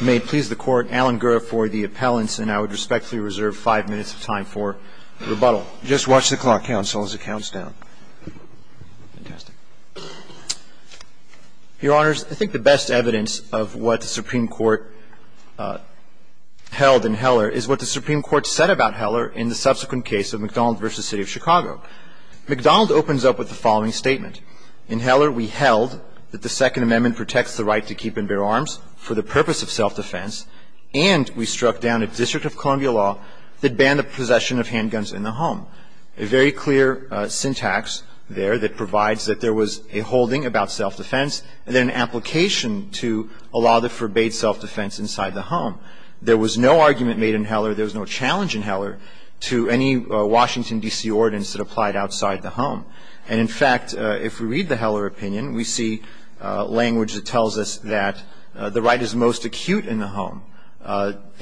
May it please the Court, Alan Gura for the appellants, and I would respectfully reserve five minutes of time for rebuttal. Just watch the clock count so long as it counts down. Your Honors, I think the best evidence of what the Supreme Court held in Heller is what the Supreme Court said about Heller in the subsequent case of McDonald v. City of Chicago. McDonald opens up with the following statement, In Heller we held that the Second Amendment protects the right to keep and bear arms for the purpose of self-defense, and we struck down a District of Columbia law that banned the possession of handguns in the home. A very clear syntax there that provides that there was a holding about self-defense and then an application to allow the forbade self-defense inside the home. There was no argument made in Heller, there was no challenge in Heller to any Washington, D.C. ordinance that applied outside the home. And in fact, if we read the Heller opinion, we see language that tells us that the right is most acute in the home.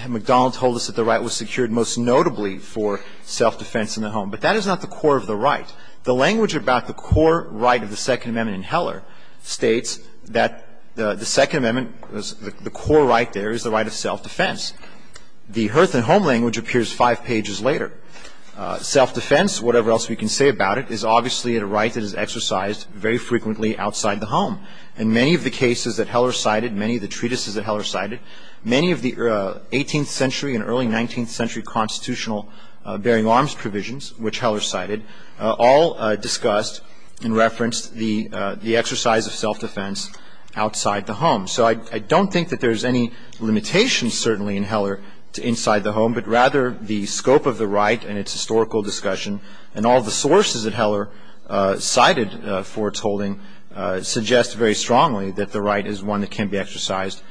McDonald told us that the right was secured most notably for self-defense in the home. But that is not the core of the right. The language about the core right of the Second Amendment in Heller states that the Second Amendment, the core right there is the right of self-defense. The Hearth and Home language appears five pages later. Self-defense, whatever else we can say about it, is obviously a right that is exercised very frequently outside the home. In many of the cases that Heller cited, many of the treatises that Heller cited, many of the 18th century and early 19th century constitutional bearing arms provisions, which Heller cited, all discussed and referenced the exercise of self-defense outside the home. So I don't think that there's any limitations certainly in Heller to inside the home, but rather the scope of the right and its historical discussion and all the sources that Heller cited for its holding suggest very strongly that the right is one that can be exercised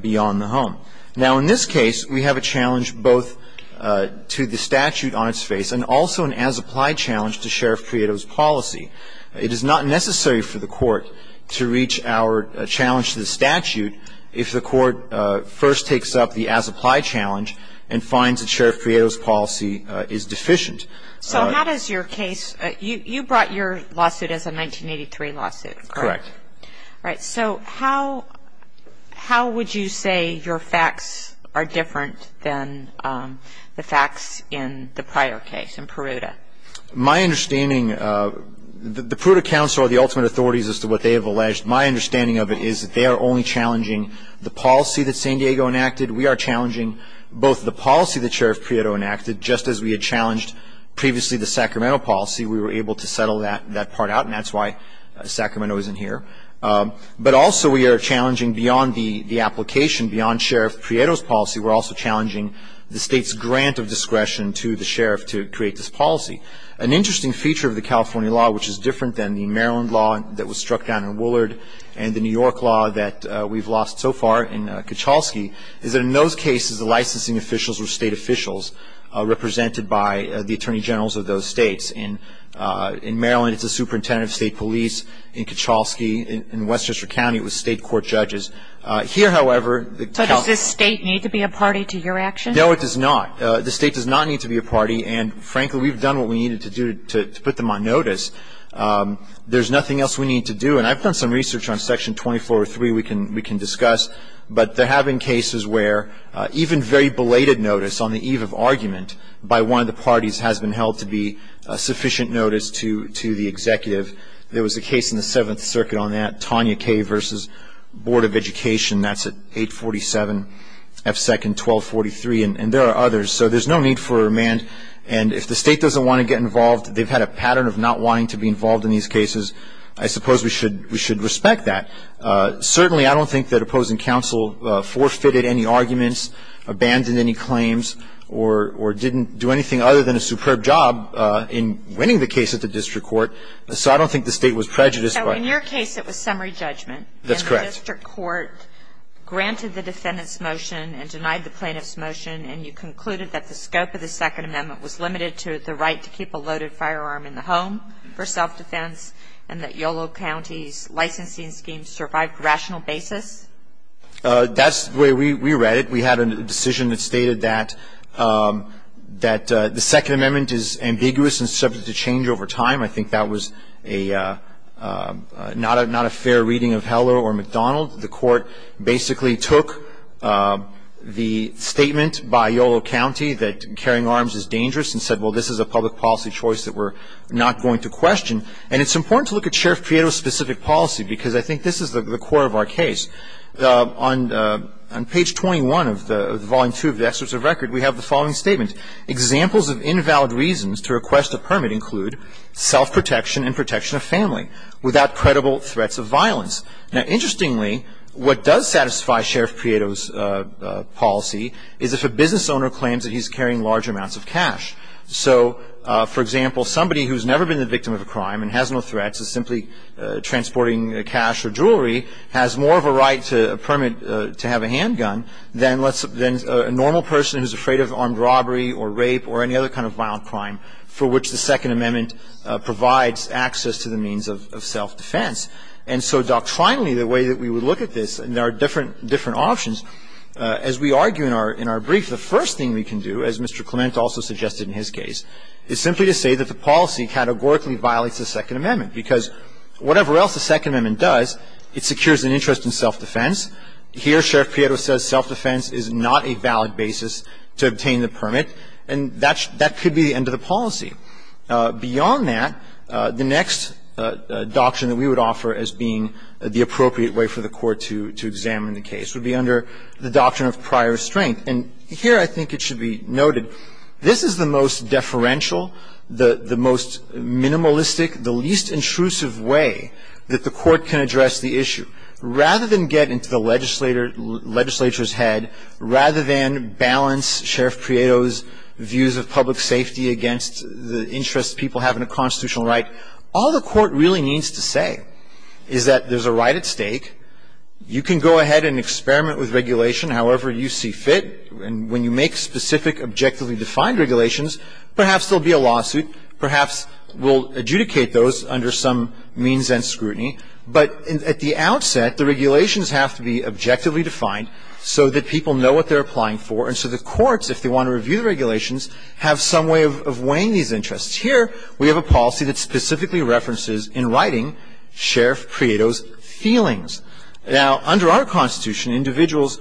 beyond the home. Now, in this case, we have a challenge both to the statute on its face and also an as-applied challenge to Sheriff Criotto's policy. It is not necessary for the court to reach our challenge to the statute if the court first takes up the as-applied challenge and finds that Sheriff Criotto's policy is deficient. So how does your case – you brought your lawsuit as a 1983 lawsuit, correct? Correct. All right. So how would you say your facts are different than the facts in the prior case, in Peruta? My understanding – the Peruta counsel are the ultimate authorities as to what they have alleged. My understanding of it is that they are only challenging the policy that San Diego enacted. We are challenging both the policy that Sheriff Criotto enacted, just as we had challenged previously the Sacramento policy. We were able to settle that part out, and that's why Sacramento isn't here. But also we are challenging beyond the application, beyond Sheriff Criotto's policy, we're also challenging the State's grant of discretion to the sheriff to create this policy. An interesting feature of the California law, which is different than the Maryland law that was struck down in Woollard and the New York law that we've lost so far in Kachalski, is that in those cases the licensing officials were state officials represented by the attorney generals of those states. In Maryland, it's a superintendent of state police. In Kachalski, in Westchester County, it was state court judges. Here, however – But does this state need to be a party to your action? No, it does not. The state does not need to be a party, and frankly, we've done what we needed to do to put them on notice. There's nothing else we need to do. And I've done some research on Section 2403 we can discuss, but there have been cases where even very belated notice on the eve of argument by one of the parties has been held to be sufficient notice to the executive. There was a case in the Seventh Circuit on that, Tanya K. v. Board of Education. That's at 847 F. 2nd, 1243, and there are others. So there's no need for a remand. And if the state doesn't want to get involved, they've had a pattern of not wanting to be involved in these cases, I suppose we should respect that. Certainly, I don't think that opposing counsel forfeited any arguments, abandoned any claims, or didn't do anything other than a superb job in winning the case at the district court. So I don't think the state was prejudiced by it. So in your case, it was summary judgment. That's correct. And the district court granted the defendant's motion and denied the plaintiff's motion, and you concluded that the scope of the Second Amendment was limited to the right to keep a loaded firearm in the home for self-defense, and that Yolo County's licensing scheme survived rational basis? That's the way we read it. We had a decision that stated that the Second Amendment is ambiguous and subject to change over time. I think that was not a fair reading of Heller or McDonald. The court basically took the statement by Yolo County that carrying arms is dangerous and said, well, this is a public policy choice that we're not going to question. And it's important to look at Sheriff Prieto's specific policy, because I think this is the core of our case. On page 21 of the volume 2 of the excerpts of record, we have the following statement. Examples of invalid reasons to request a permit include self-protection and protection of family, without credible threats of violence. Now, interestingly, what does satisfy Sheriff Prieto's policy is if a business owner claims that he's carrying large amounts of cash. So, for example, somebody who's never been the victim of a crime and has no threats is simply transporting cash or jewelry, has more of a right to permit to have a handgun than a normal person who's afraid of armed robbery or rape or any other kind of violent crime for which the Second Amendment provides access to the means of self-defense. And so doctrinally, the way that we would look at this, and there are different options, as we argue in our brief, the first thing we can do, as Mr. Clement also suggested in his case, is simply to say that the policy categorically violates the Second Amendment, because whatever else the Second Amendment does, it secures an interest in self-defense. Here, Sheriff Prieto says self-defense is not a valid basis to obtain the permit, and that could be the end of the policy. Beyond that, the next doctrine that we would offer as being the appropriate way for the Court to examine the case would be under the doctrine of prior restraint. And here I think it should be noted, this is the most deferential, the most minimalistic, the least intrusive way that the Court can address the issue. Rather than get into the legislature's head, rather than balance Sheriff Prieto's views of public safety against the interests people have in a constitutional right, all the Court really needs to say is that there's a right at stake. You can go ahead and experiment with regulation however you see fit. And when you make specific, objectively defined regulations, perhaps there will be a lawsuit. Perhaps we'll adjudicate those under some means and scrutiny. But at the outset, the regulations have to be objectively defined so that people know what they're applying for. And so the courts, if they want to review the regulations, have some way of weighing these interests. Here we have a policy that specifically references, in writing, Sheriff Prieto's feelings. Now, under our Constitution, individuals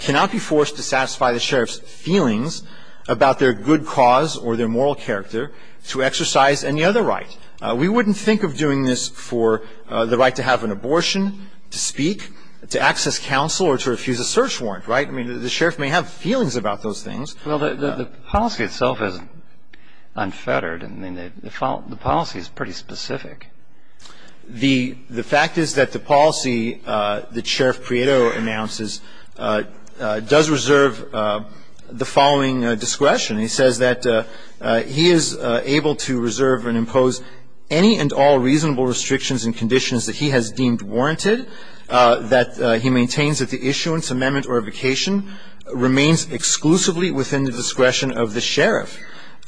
cannot be forced to satisfy the Sheriff's feelings about their good cause or their moral character to exercise any other right. We wouldn't think of doing this for the right to have an abortion, to speak, to access counsel, or to refuse a search warrant, right? I mean, the Sheriff may have feelings about those things. Well, the policy itself is unfettered. I mean, the policy is pretty specific. The fact is that the policy that Sheriff Prieto announces does reserve the following discretion. He says that he is able to reserve and impose any and all reasonable restrictions and conditions that he has deemed warranted, that he maintains that the issuance, amendment, or evocation remains exclusively within the discretion of the Sheriff,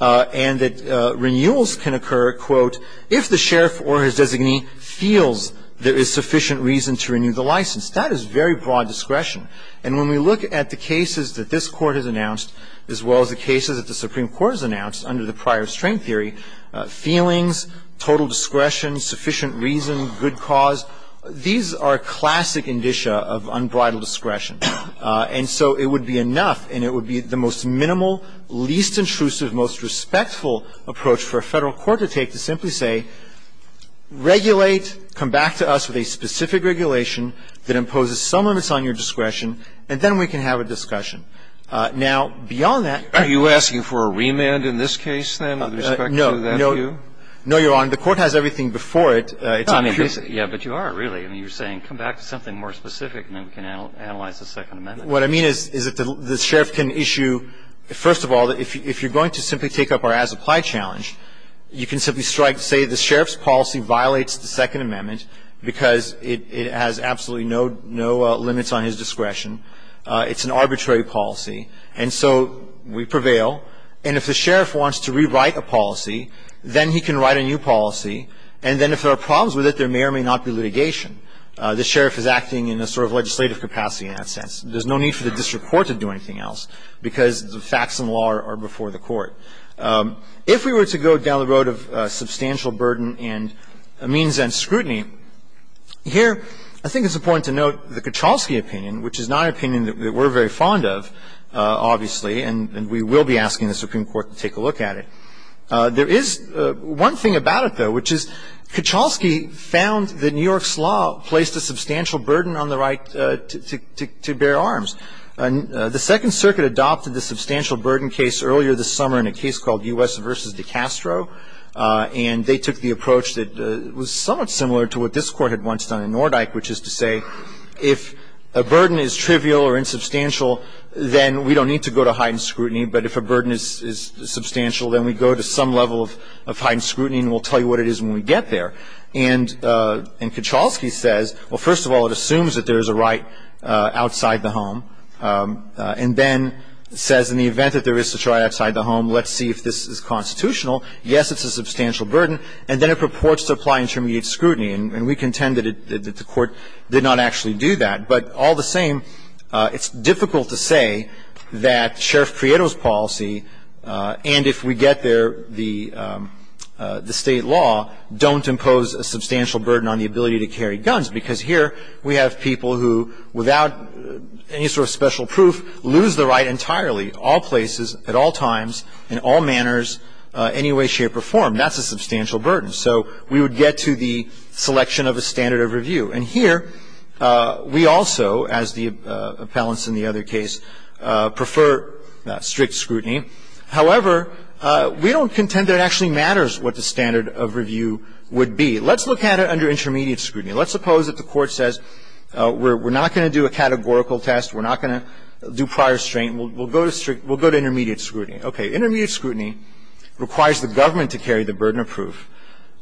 and that renewals can occur, quote, if the Sheriff or his designee feels there is sufficient reason to renew the license. That is very broad discretion. And when we look at the cases that this Court has announced, as well as the cases that the Supreme Court has announced under the prior restraint theory, feelings, total discretion, sufficient reason, good cause, these are classic indicia of unbridled discretion. And so it would be enough, and it would be the most minimal, least intrusive, most respectful approach for a Federal court to take, to simply say, regulate, come back to us with a specific regulation that imposes some limits on your discretion, and then we can have a discussion. Now, beyond that, are you asking for a remand in this case, then, with respect to that view? No. No. No, Your Honor. The Court has everything before it. I mean, yes, but you are, really. I mean, you are saying come back to something more specific, and then we can analyze the Second Amendment. What I mean is, is that the Sheriff can issue, first of all, if you are going to simply take up our as-applied challenge, you can simply strike, say the Sheriff's policy violates the Second Amendment because it has absolutely no limits on his discretion. It's an arbitrary policy. And so we prevail. And if the Sheriff wants to rewrite a policy, then he can write a new policy. And then if there are problems with it, there may or may not be litigation. The Sheriff is acting in a sort of legislative capacity in that sense. There's no need for the district court to do anything else because the facts and law are before the court. If we were to go down the road of substantial burden and means and scrutiny, here I think it's important to note the Kacholsky opinion, which is not an opinion that we're very fond of, obviously, and we will be asking the Supreme Court to take a look at it. There is one thing about it, though, which is Kacholsky found that New York's law placed a substantial burden on the right to bear arms. The Second Circuit adopted the substantial burden case earlier this summer in a case called U.S. v. DiCastro, and they took the approach that was somewhat similar to what this Court had once done in Nordyke, which is to say if a burden is trivial or insubstantial, then we don't need to go to heightened scrutiny, but if a burden is substantial, then we go to some level of heightened scrutiny and we'll tell you what it is when we get there. And Kacholsky says, well, first of all, it assumes that there is a right outside the home, and then says in the event that there is such a right outside the home, let's see if this is constitutional. Yes, it's a substantial burden, and then it purports to apply intermediate scrutiny, and we contend that the Court did not actually do that. But all the same, it's difficult to say that Sheriff Prieto's policy, and if we get there, the State law, don't impose a substantial burden on the ability to carry guns, because here we have people who, without any sort of special proof, lose the right entirely, all places, at all times, in all manners, any way, shape, or form. That's a substantial burden. So we would get to the selection of a standard of review. And here, we also, as the appellants in the other case, prefer strict scrutiny. However, we don't contend that it actually matters what the standard of review would be. Let's look at it under intermediate scrutiny. Let's suppose that the Court says, we're not going to do a categorical test, we're not going to do prior strain, we'll go to strict, we'll go to intermediate scrutiny. Okay. Intermediate scrutiny requires the government to carry the burden of proof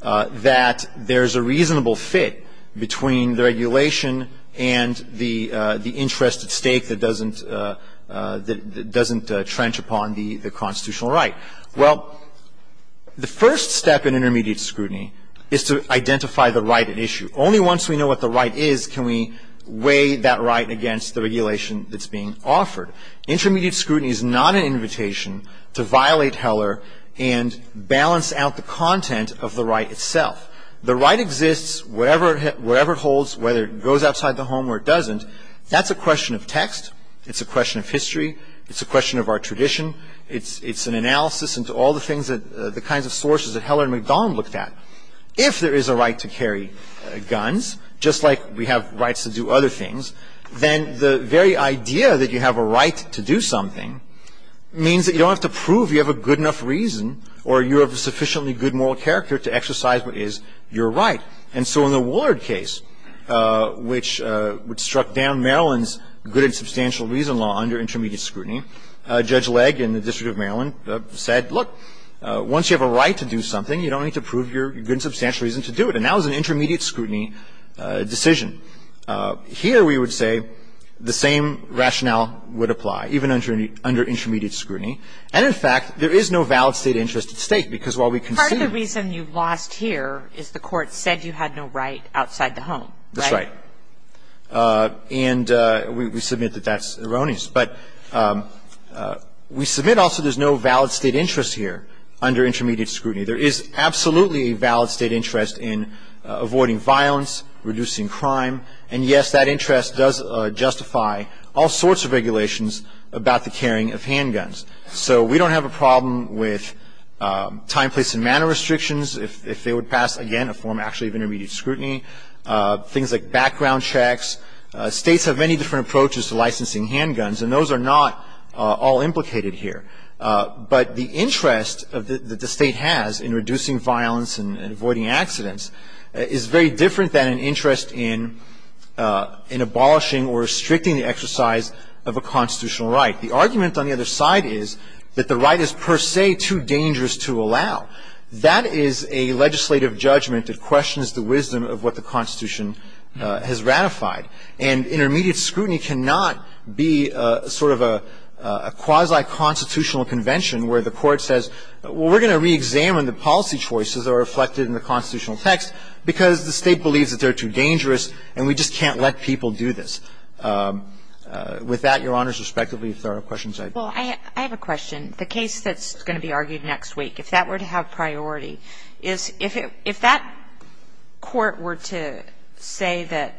that there's a reasonable fit between the regulation and the interest at stake that doesn't, that doesn't trench upon the constitutional right. Well, the first step in intermediate scrutiny is to identify the right at issue. Only once we know what the right is can we weigh that right against the regulation that's being offered. Intermediate scrutiny is not an invitation to violate Heller and balance out the content of the right itself. The right exists wherever it holds, whether it goes outside the home or it doesn't. That's a question of text. It's a question of history. It's a question of our tradition. It's an analysis into all the things that the kinds of sources that Heller and McDonnell looked at. If there is a right to carry guns, just like we have rights to do other things, then the very idea that you have a right to do something means that you don't have to prove you have a good enough reason or you have a sufficiently good moral character to exercise what is your right. And so in the Woollard case, which struck down Maryland's good and substantial reason law under intermediate scrutiny, Judge Legge in the District of Maryland said, look, once you have a right to do something, you don't need to prove your good and substantial reason to do it. And that was an intermediate scrutiny decision. Here we would say the same rationale would apply, even under intermediate scrutiny. And, in fact, there is no valid State interest at stake, because while we can see And the only reason you've lost here is the Court said you had no right outside the home, right? That's right. And we submit that that's erroneous. But we submit also there's no valid State interest here under intermediate scrutiny. There is absolutely a valid State interest in avoiding violence, reducing crime. And, yes, that interest does justify all sorts of regulations about the carrying of handguns. So we don't have a problem with time, place, and manner restrictions if they would pass, again, a form actually of intermediate scrutiny, things like background checks. States have many different approaches to licensing handguns, and those are not all implicated here. But the interest that the State has in reducing violence and avoiding accidents is very different than an interest in abolishing or restricting the exercise of a constitutional right. The argument on the other side is that the right is per se too dangerous to allow. That is a legislative judgment that questions the wisdom of what the Constitution has ratified. And intermediate scrutiny cannot be sort of a quasi-constitutional convention where the Court says, well, we're going to reexamine the policy choices that are reflected in the constitutional text because the State believes that they're too dangerous and we just can't let people do this. With that, Your Honors, respectively, if there are questions I'd like to ask. Kagan. Well, I have a question. The case that's going to be argued next week, if that were to have priority, is if that court were to say that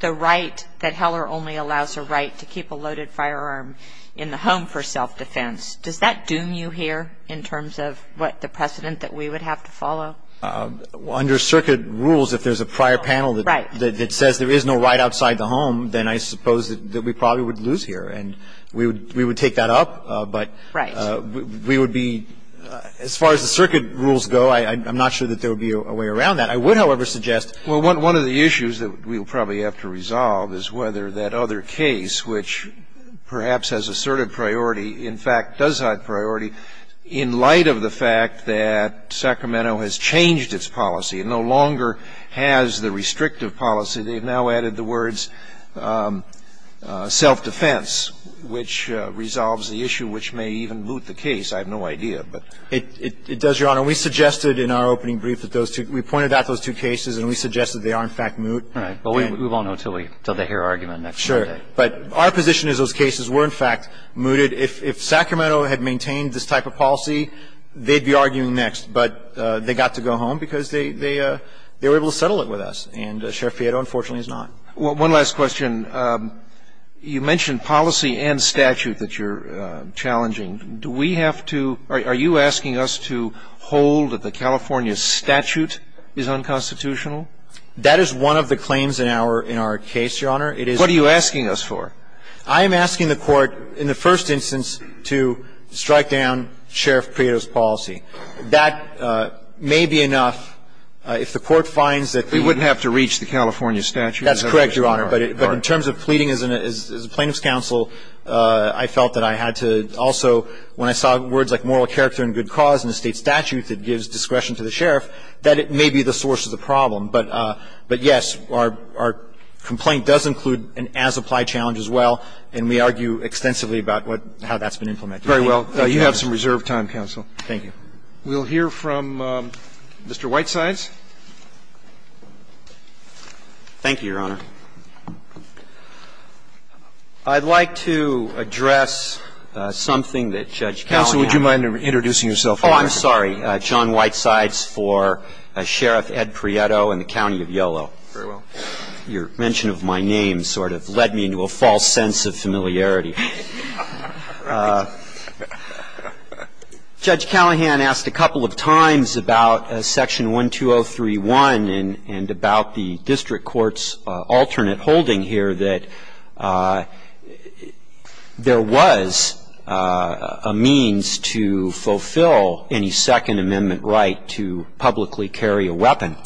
the right, that Heller only allows a right to keep a loaded firearm in the home for self-defense, does that doom you here in terms of what the precedent that we would have to follow? Under circuit rules, if there's a prior panel that says there is no right outside the home, then I suppose that we probably would lose here. And we would take that up, but we would be as far as the circuit rules go, I'm not sure that there would be a way around that. I would, however, suggest. Well, one of the issues that we'll probably have to resolve is whether that other case, which perhaps has asserted priority, in fact, does have priority, in light of the fact that Sacramento has changed its policy and no longer has the restrictive policy. They've now added the words, self-defense, which resolves the issue, which may even moot the case. I have no idea, but. It does, Your Honor. We suggested in our opening brief that those two, we pointed out those two cases and we suggested they are, in fact, moot. Right. But we won't know until we, until they hear argument next Monday. But our position is those cases were, in fact, mooted. If Sacramento had maintained this type of policy, they'd be arguing next. But they got to go home because they were able to settle it with us. And Sheriff Pieto, unfortunately, has not. One last question. You mentioned policy and statute that you're challenging. Do we have to, are you asking us to hold that the California statute is unconstitutional? That is one of the claims in our case, Your Honor. What are you asking us for? I am asking the Court, in the first instance, to strike down Sheriff Pieto's policy. That may be enough if the Court finds that the ---- We wouldn't have to reach the California statute. That's correct, Your Honor. But in terms of pleading as a plaintiff's counsel, I felt that I had to also, when I saw words like moral character and good cause in the State statute that gives discretion to the Sheriff, that it may be the source of the problem. But, yes, our complaint does include an as-applied challenge as well. And we argue extensively about what, how that's been implemented. Thank you, Your Honor. Very well. You have some reserved time, counsel. Thank you. We'll hear from Mr. Whitesides. Thank you, Your Honor. I'd like to address something that Judge Callahan ---- Counsel, would you mind introducing yourself? Oh, I'm sorry. I'm John Whitesides for Sheriff Ed Prieto in the County of Yolo. Very well. Your mention of my name sort of led me into a false sense of familiarity. Judge Callahan asked a couple of times about Section 12031 and about the district court's alternate holding here that there was a means to fulfill any second amendment right to publicly carry a weapon.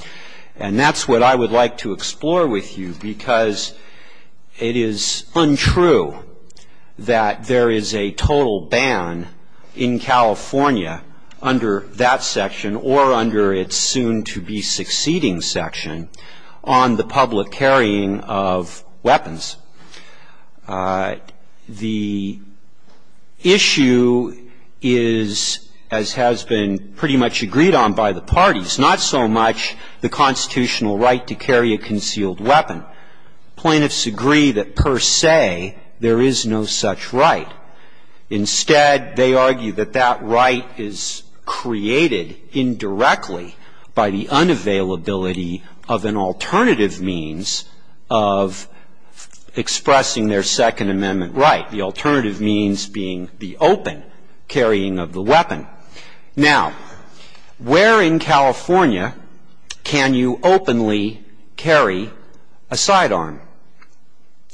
And that's what I would like to explore with you because it is untrue that there is a total ban in California under that section or under its soon-to-be succeeding The issue is, as has been pretty much agreed on by the parties, not so much the constitutional right to carry a concealed weapon. Plaintiffs agree that per se there is no such right. Instead, they argue that that right is created indirectly by the unavailability of an alternative means of expressing their second amendment right. The alternative means being the open carrying of the weapon. Now, where in California can you openly carry a sidearm?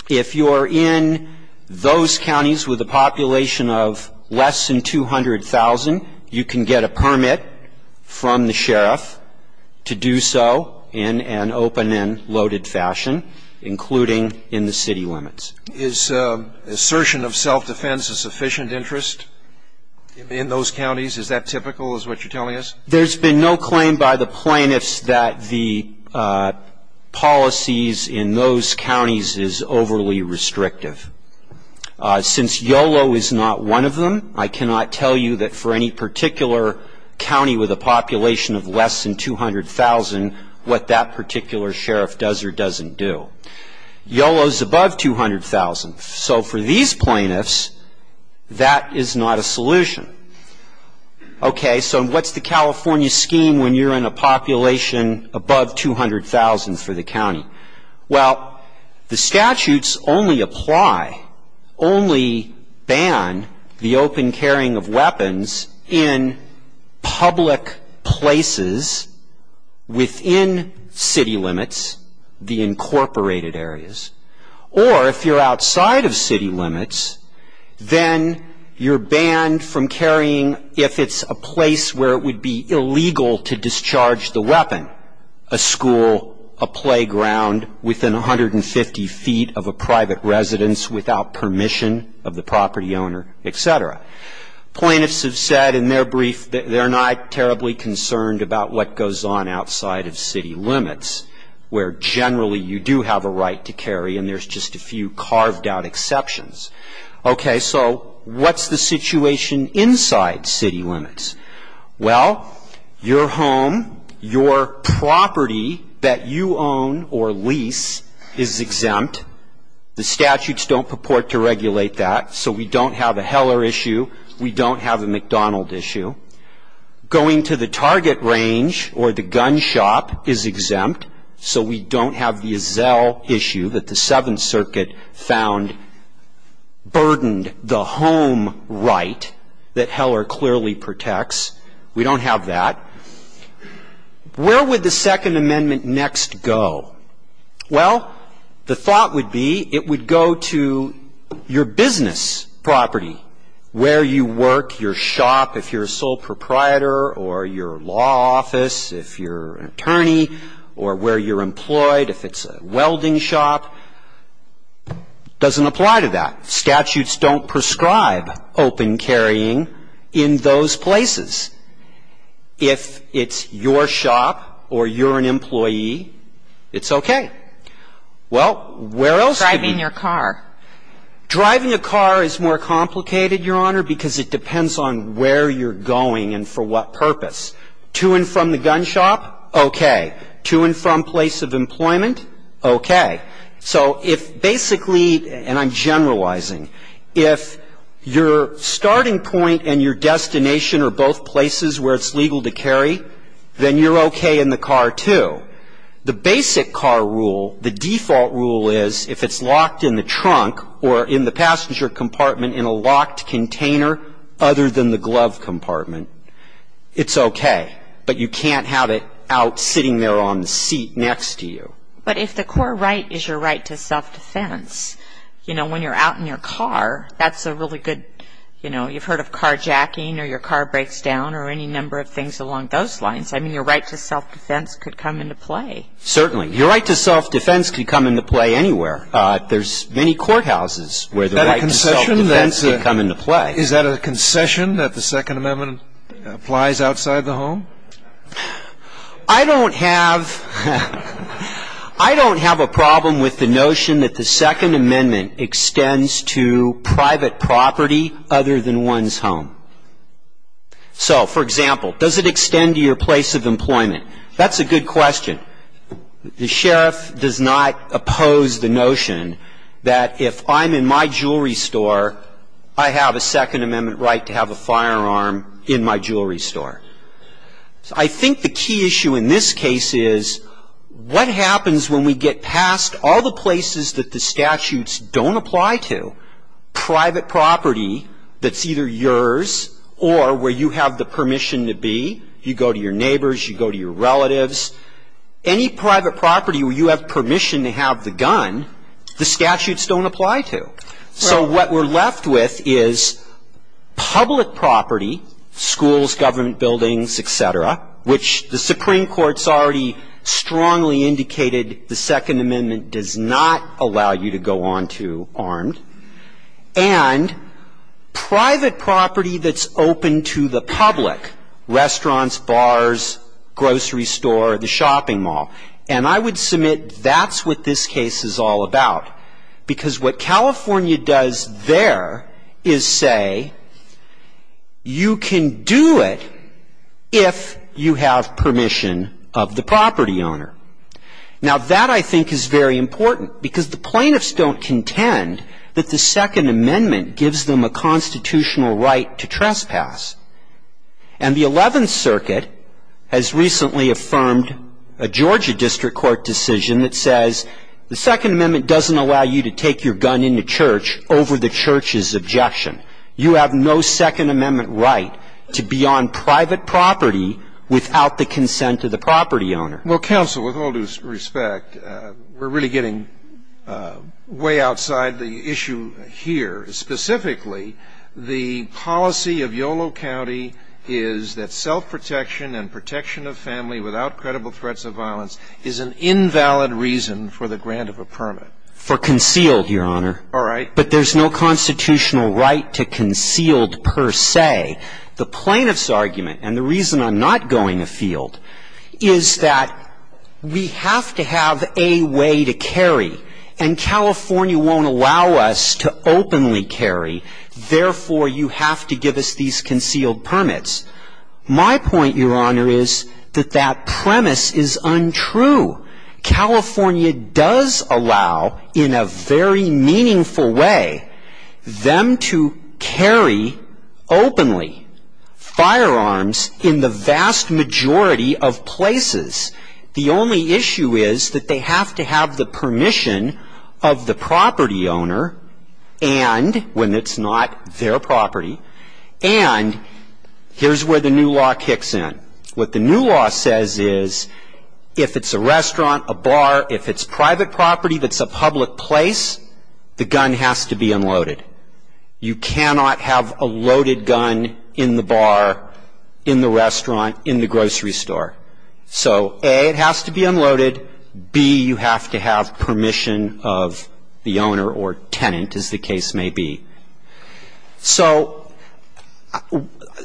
If you're in those counties with a population of less than 200,000, you can get a permit from the sheriff to do so in an open and loaded fashion, including in the city limits. Is assertion of self-defense a sufficient interest in those counties? Is that typical, is what you're telling us? There's been no claim by the plaintiffs that the policies in those counties is overly restrictive. Since YOLO is not one of them, I cannot tell you that for any particular county with a population of less than 200,000 what that particular sheriff does or doesn't do. YOLO is above 200,000. So for these plaintiffs, that is not a solution. Okay, so what's the California scheme when you're in a population above 200,000 for the county? Well, the statutes only apply, only ban the open carrying of weapons in public places within city limits, the incorporated areas. Or if you're outside of city limits, then you're banned from carrying if it's a place where it would be within 150 feet of a private residence without permission of the property owner, et cetera. Plaintiffs have said in their brief that they're not terribly concerned about what goes on outside of city limits, where generally you do have a right to carry and there's just a few carved out exceptions. Okay, so what's the situation inside city limits? Well, your home, your property that you own or lease is exempt. The statutes don't purport to regulate that, so we don't have a Heller issue, we don't have a McDonald issue. Going to the target range or the gun shop is exempt, so we don't have the Azzell issue that the Seventh We don't have the gun shops, we don't have the fireworks, we don't have that. Where would the Second Amendment next go? Well, the thought would be it would go to your business property, where you work, your shop, if you're a sole proprietor or your law office, if you're an attorney, or where you're employed, if it's a welding shop. Doesn't apply to that. Statutes don't prescribe open carrying in those places. If it's your shop or you're an employee, it's okay. Well, where else could it be? Driving your car. Driving a car is more complicated, Your Honor, because it depends on where you're going and for what purpose. To and from the gun shop, okay. To and from place of employment, okay. So if basically, and I'm generalizing, if your starting point and your destination are both places where it's legal to carry, then you're okay in the car, too. The basic car rule, the default rule is if it's locked in the trunk or in the passenger compartment in a locked container other than the glove compartment, it's okay. But you can't have it out sitting there on the seat next to you. But if the core right is your right to self-defense, you know, when you're out in your car, that's a really good, you know, you've heard of carjacking or your car breaks down or any number of things along those lines. I mean, your right to self-defense could come into play. Certainly. Your right to self-defense could come into play anywhere. There's many courthouses where the right to self-defense could come into play. I don't have a problem with the notion that the Second Amendment extends to private property other than one's home. So, for example, does it extend to your place of employment? That's a good question. The sheriff does not oppose the notion that if I'm in my jewelry store, I have a Second Amendment right to have a firearm in my jewelry store. I think the key issue in this case is what happens when we get past all the places that the statutes don't apply to, private property that's either yours or where you have the permission to be. You go to your neighbors. You go to your relatives. Any private property where you have permission to have the gun, the statutes don't apply to. So what we're left with is public property, schools, government buildings, et cetera, which the Supreme Court's already strongly indicated the Second Amendment does not allow you to go on to armed, and private property that's open to the public, restaurants, bars, grocery store, the shopping mall. And I would submit that's what this case is all about. Because what California does there is say you can do it if you have permission of the property owner. Now, that, I think, is very important because the plaintiffs don't contend that the Second Amendment gives them a constitutional right to trespass. And the Eleventh Circuit has recently affirmed a Georgia district court decision that says the Second Amendment doesn't allow you to take your gun into church over the church's objection. You have no Second Amendment right to be on private property without the consent of the property owner. Well, counsel, with all due respect, we're really getting way outside the issue here. Specifically, the policy of Yolo County is that self-protection and protection of family without credible threats of violence is an invalid reason for the grant of a permit. For concealed, Your Honor. All right. But there's no constitutional right to concealed per se. The plaintiff's argument, and the reason I'm not going afield, is that we have to have a way to carry, and California won't allow us to openly carry. Therefore, you have to give us these concealed permits. My point, Your Honor, is that that premise is untrue. California does allow, in a very meaningful way, them to carry openly firearms in the vast majority of places. The only issue is that they have to have the permission of the property owner and, when it's not their property, and here's where the new law kicks in. What the new law says is if it's a restaurant, a bar, if it's private property that's a public place, the gun has to be unloaded. You cannot have a loaded gun in the bar, in the restaurant, in the grocery store. So, A, it has to be unloaded. B, you have to have permission of the owner or tenant, as the case may be. So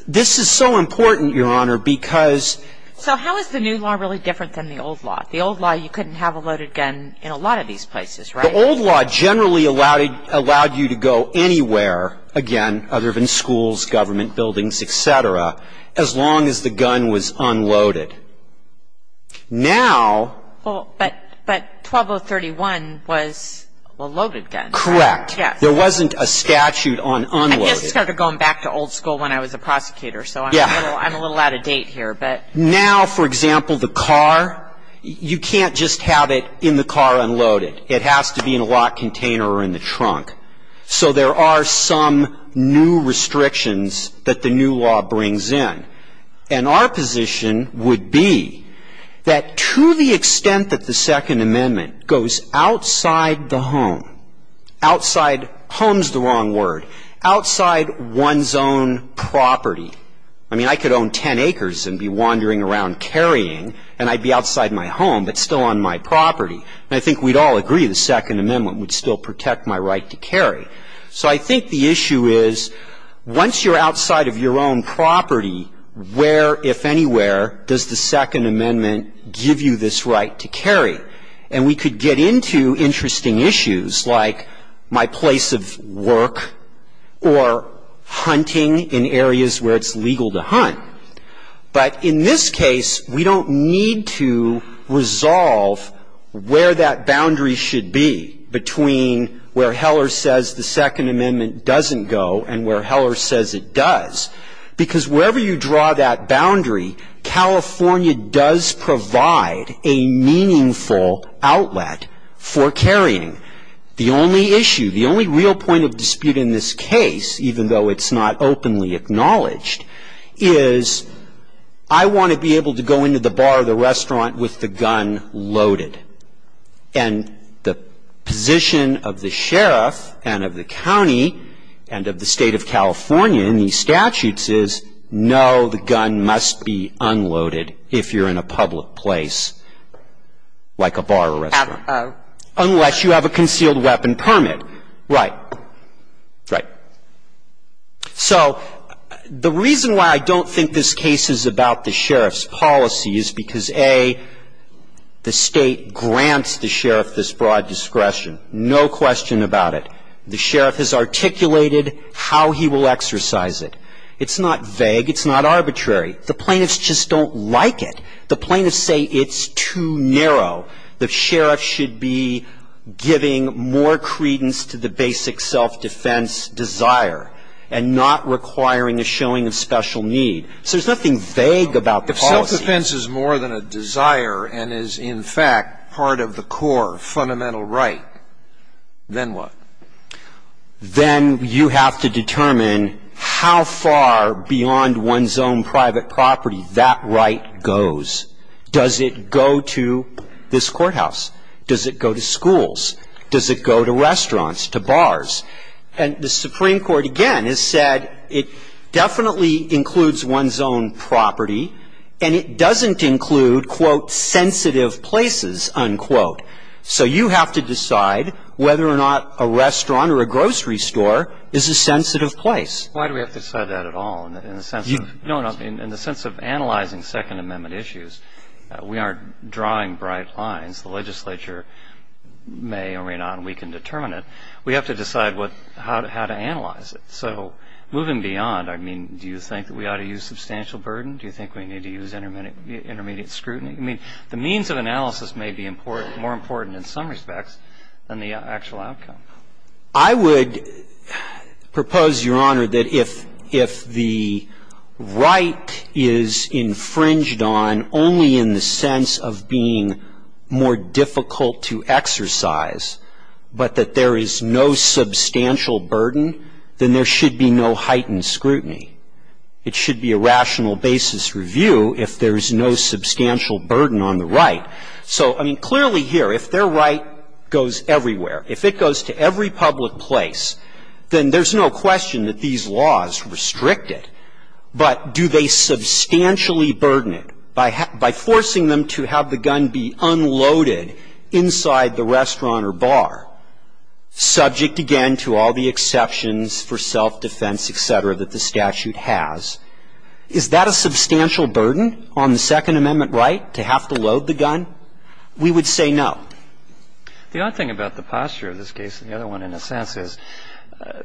this is so important, Your Honor, because ‑‑ So how is the new law really different than the old law? The old law, you couldn't have a loaded gun in a lot of these places, right? The old law generally allowed you to go anywhere, again, other than schools, government buildings, et cetera, as long as the gun was unloaded. Now ‑‑ But 12031 was a loaded gun. Correct. Yes. There wasn't a statute on unloading. I guess it started going back to old school when I was a prosecutor, so I'm a little out of date here. Now, for example, the car, you can't just have it in the car unloaded. It has to be in a locked container or in the trunk. So there are some new restrictions that the new law brings in. And our position would be that to the extent that the Second Amendment goes outside the home, outside homes is the wrong word, outside one's own property. I mean, I could own ten acres and be wandering around carrying, and I'd be outside my home but still on my property. And I think we'd all agree the Second Amendment would still protect my right to carry. So I think the issue is once you're outside of your own property, where, if anywhere, does the Second Amendment give you this right to carry? And we could get into interesting issues like my place of work or hunting in areas where it's legal to hunt. But in this case, we don't need to resolve where that boundary should be between where Heller says the Second Amendment doesn't go and where Heller says it does. Because wherever you draw that boundary, California does provide a meaningful outlet for carrying. The only issue, the only real point of dispute in this case, even though it's not openly acknowledged, is I want to be able to go into the bar or the restaurant with the gun loaded. And the position of the sheriff and of the county and of the State of California in these statutes is, no, the gun must be unloaded if you're in a public place like a bar or restaurant. Unless you have a concealed weapon permit. Right. So the reason why I don't think this case is about the sheriff's policy is because, A, the State grants the sheriff this broad discretion, no question about it. The sheriff has articulated how he will exercise it. It's not vague. It's not arbitrary. The plaintiffs just don't like it. The plaintiffs say it's too narrow. The sheriff should be giving more credence to the basic self-defense desire and not requiring a showing of special need. So there's nothing vague about the policy. If self-defense is more than a desire and is, in fact, part of the core fundamental right, then what? Then you have to determine how far beyond one's own private property that right goes. Does it go to this courthouse? Does it go to schools? Does it go to restaurants, to bars? And the Supreme Court, again, has said it definitely includes one's own property, and it doesn't include, quote, sensitive places, unquote. So you have to decide whether or not a restaurant or a grocery store is a sensitive place. Why do we have to decide that at all in the sense of analyzing Second Amendment issues? We aren't drawing bright lines. The legislature may or may not weaken determinant. We have to decide how to analyze it. So moving beyond, I mean, do you think that we ought to use substantial burden? Do you think we need to use intermediate scrutiny? I mean, the means of analysis may be more important in some respects than the actual outcome. I would propose, Your Honor, that if the right is infringed on only in the sense of being more difficult to exercise, but that there is no substantial burden, then there should be no heightened scrutiny. It should be a rational basis review if there is no substantial burden on the right. So, I mean, clearly here, if their right goes everywhere, if it goes to every public place, then there's no question that these laws restrict it. But do they substantially burden it by forcing them to have the gun be unloaded inside the restaurant or bar, subject, again, to all the exceptions for self-defense, et cetera, that the statute has? Is that a substantial burden on the Second Amendment right, to have to load the gun? We would say no. The odd thing about the posture of this case and the other one, in a sense, is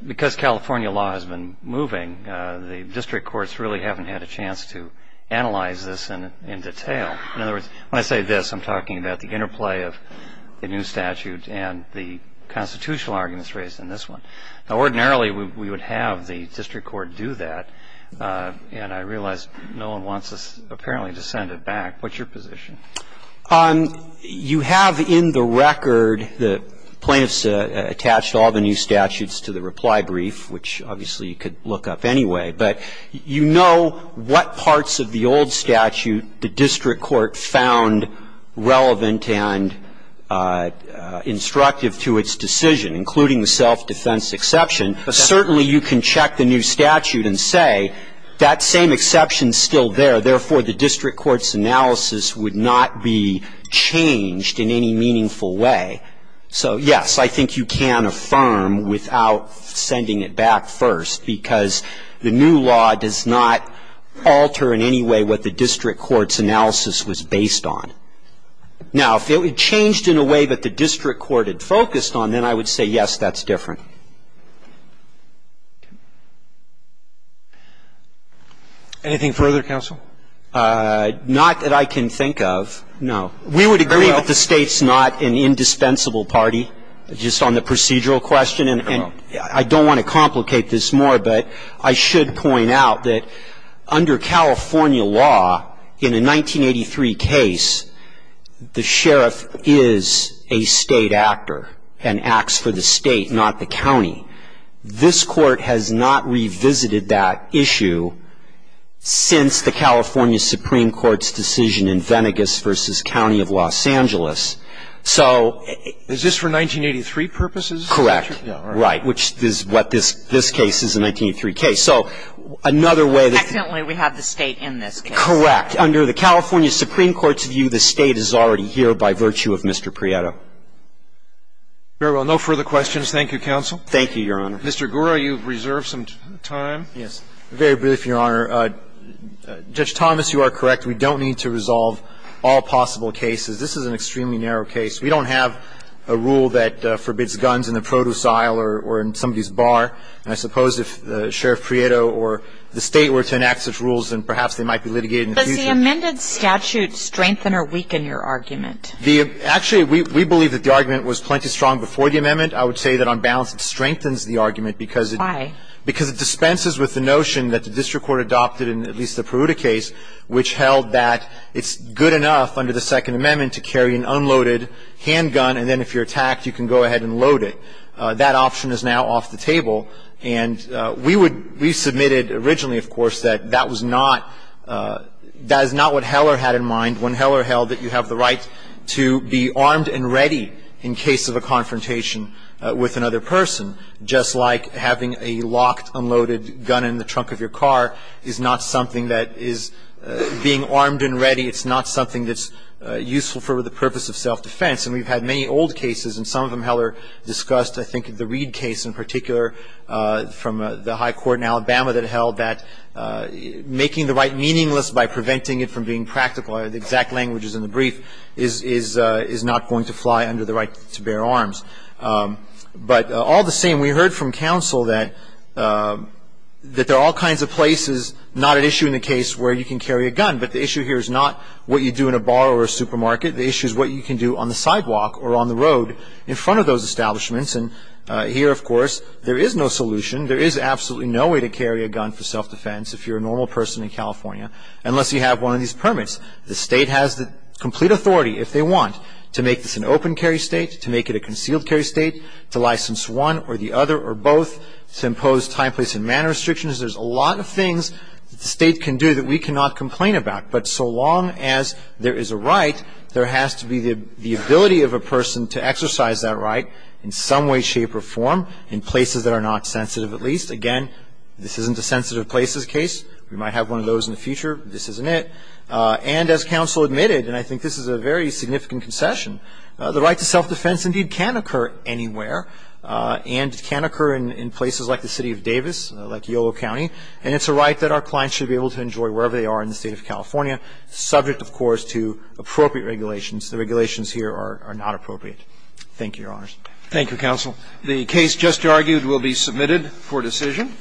because California law has been moving, the district courts really haven't had a chance to analyze this in detail. In other words, when I say this, I'm talking about the interplay of the new statute and the constitutional arguments raised in this one. Now, ordinarily, we would have the district court do that, and I realize no one wants us, apparently, to send it back. What's your position? You have in the record the plaintiffs attached all the new statutes to the reply brief, which, obviously, you could look up anyway. But you know what parts of the old statute the district court found relevant and instructive to its decision, including the self-defense exception. Certainly, you can check the new statute and say, that same exception is still there, therefore, the district court's analysis would not be changed in any meaningful way. So, yes, I think you can affirm without sending it back first, because the new law does not alter in any way what the district court's analysis was based on. Now, if it changed in a way that the district court had focused on, then I would say, yes, that's different. Anything further, counsel? Not that I can think of, no. We would agree that the State's not an indispensable party, just on the procedural question. And I don't want to complicate this more, but I should point out that under California law, in a 1983 case, the sheriff is a State actor and acts for the State, not the county. This Court has not revisited that issue since the California Supreme Court's decision in Venegas v. County of Los Angeles. So ---- Is this for 1983 purposes? Correct. Right. Which is what this case is, the 1983 case. So another way that ---- Well, evidently, we have the State in this case. Correct. Under the California Supreme Court's view, the State is already here by virtue of Mr. Prieto. Very well. No further questions. Thank you, counsel. Thank you, Your Honor. Mr. Gura, you reserve some time. Yes. Very briefly, Your Honor. Judge Thomas, you are correct. We don't need to resolve all possible cases. This is an extremely narrow case. We don't have a rule that forbids guns in the produce aisle or in somebody's I suppose if Sheriff Prieto or the State were to enact such rules, then perhaps they might be litigated in the future. Does the amended statute strengthen or weaken your argument? Actually, we believe that the argument was plenty strong before the amendment. I would say that on balance it strengthens the argument because it ---- Why? Because it dispenses with the notion that the district court adopted in at least the Peruta case, which held that it's good enough under the Second Amendment to carry an unloaded handgun, and then if you're attacked, you can go ahead and load it. That option is now off the table. And we would ---- we submitted originally, of course, that that was not ---- that is not what Heller had in mind when Heller held that you have the right to be armed and ready in case of a confrontation with another person, just like having a locked, unloaded gun in the trunk of your car is not something that is being armed and ready. It's not something that's useful for the purpose of self-defense. And we've had many old cases, and some of them Heller discussed. I think the Reed case in particular from the high court in Alabama that held that making the right meaningless by preventing it from being practical, the exact language is in the brief, is not going to fly under the right to bear arms. But all the same, we heard from counsel that there are all kinds of places, not at issue in the case where you can carry a gun, but the issue here is not what you do in a bar or a supermarket. The issue is what you can do on the sidewalk or on the road in front of those establishments. And here, of course, there is no solution. There is absolutely no way to carry a gun for self-defense if you're a normal person in California, unless you have one of these permits. The state has the complete authority, if they want, to make this an open carry state, to make it a concealed carry state, to license one or the other or both, to impose time, place, and manner restrictions. There's a lot of things that the state can do that we cannot complain about. But so long as there is a right, there has to be the ability of a person to exercise that right in some way, shape, or form in places that are not sensitive, at least. Again, this isn't a sensitive places case. We might have one of those in the future. This isn't it. And as counsel admitted, and I think this is a very significant concession, the right to self-defense indeed can occur anywhere and can occur in places like the city of Davis, like Yolo County, and it's a right that our clients should be able to subject, of course, to appropriate regulations. The regulations here are not appropriate. Thank you, Your Honors. Roberts. Thank you, counsel. The case just argued will be submitted for decision.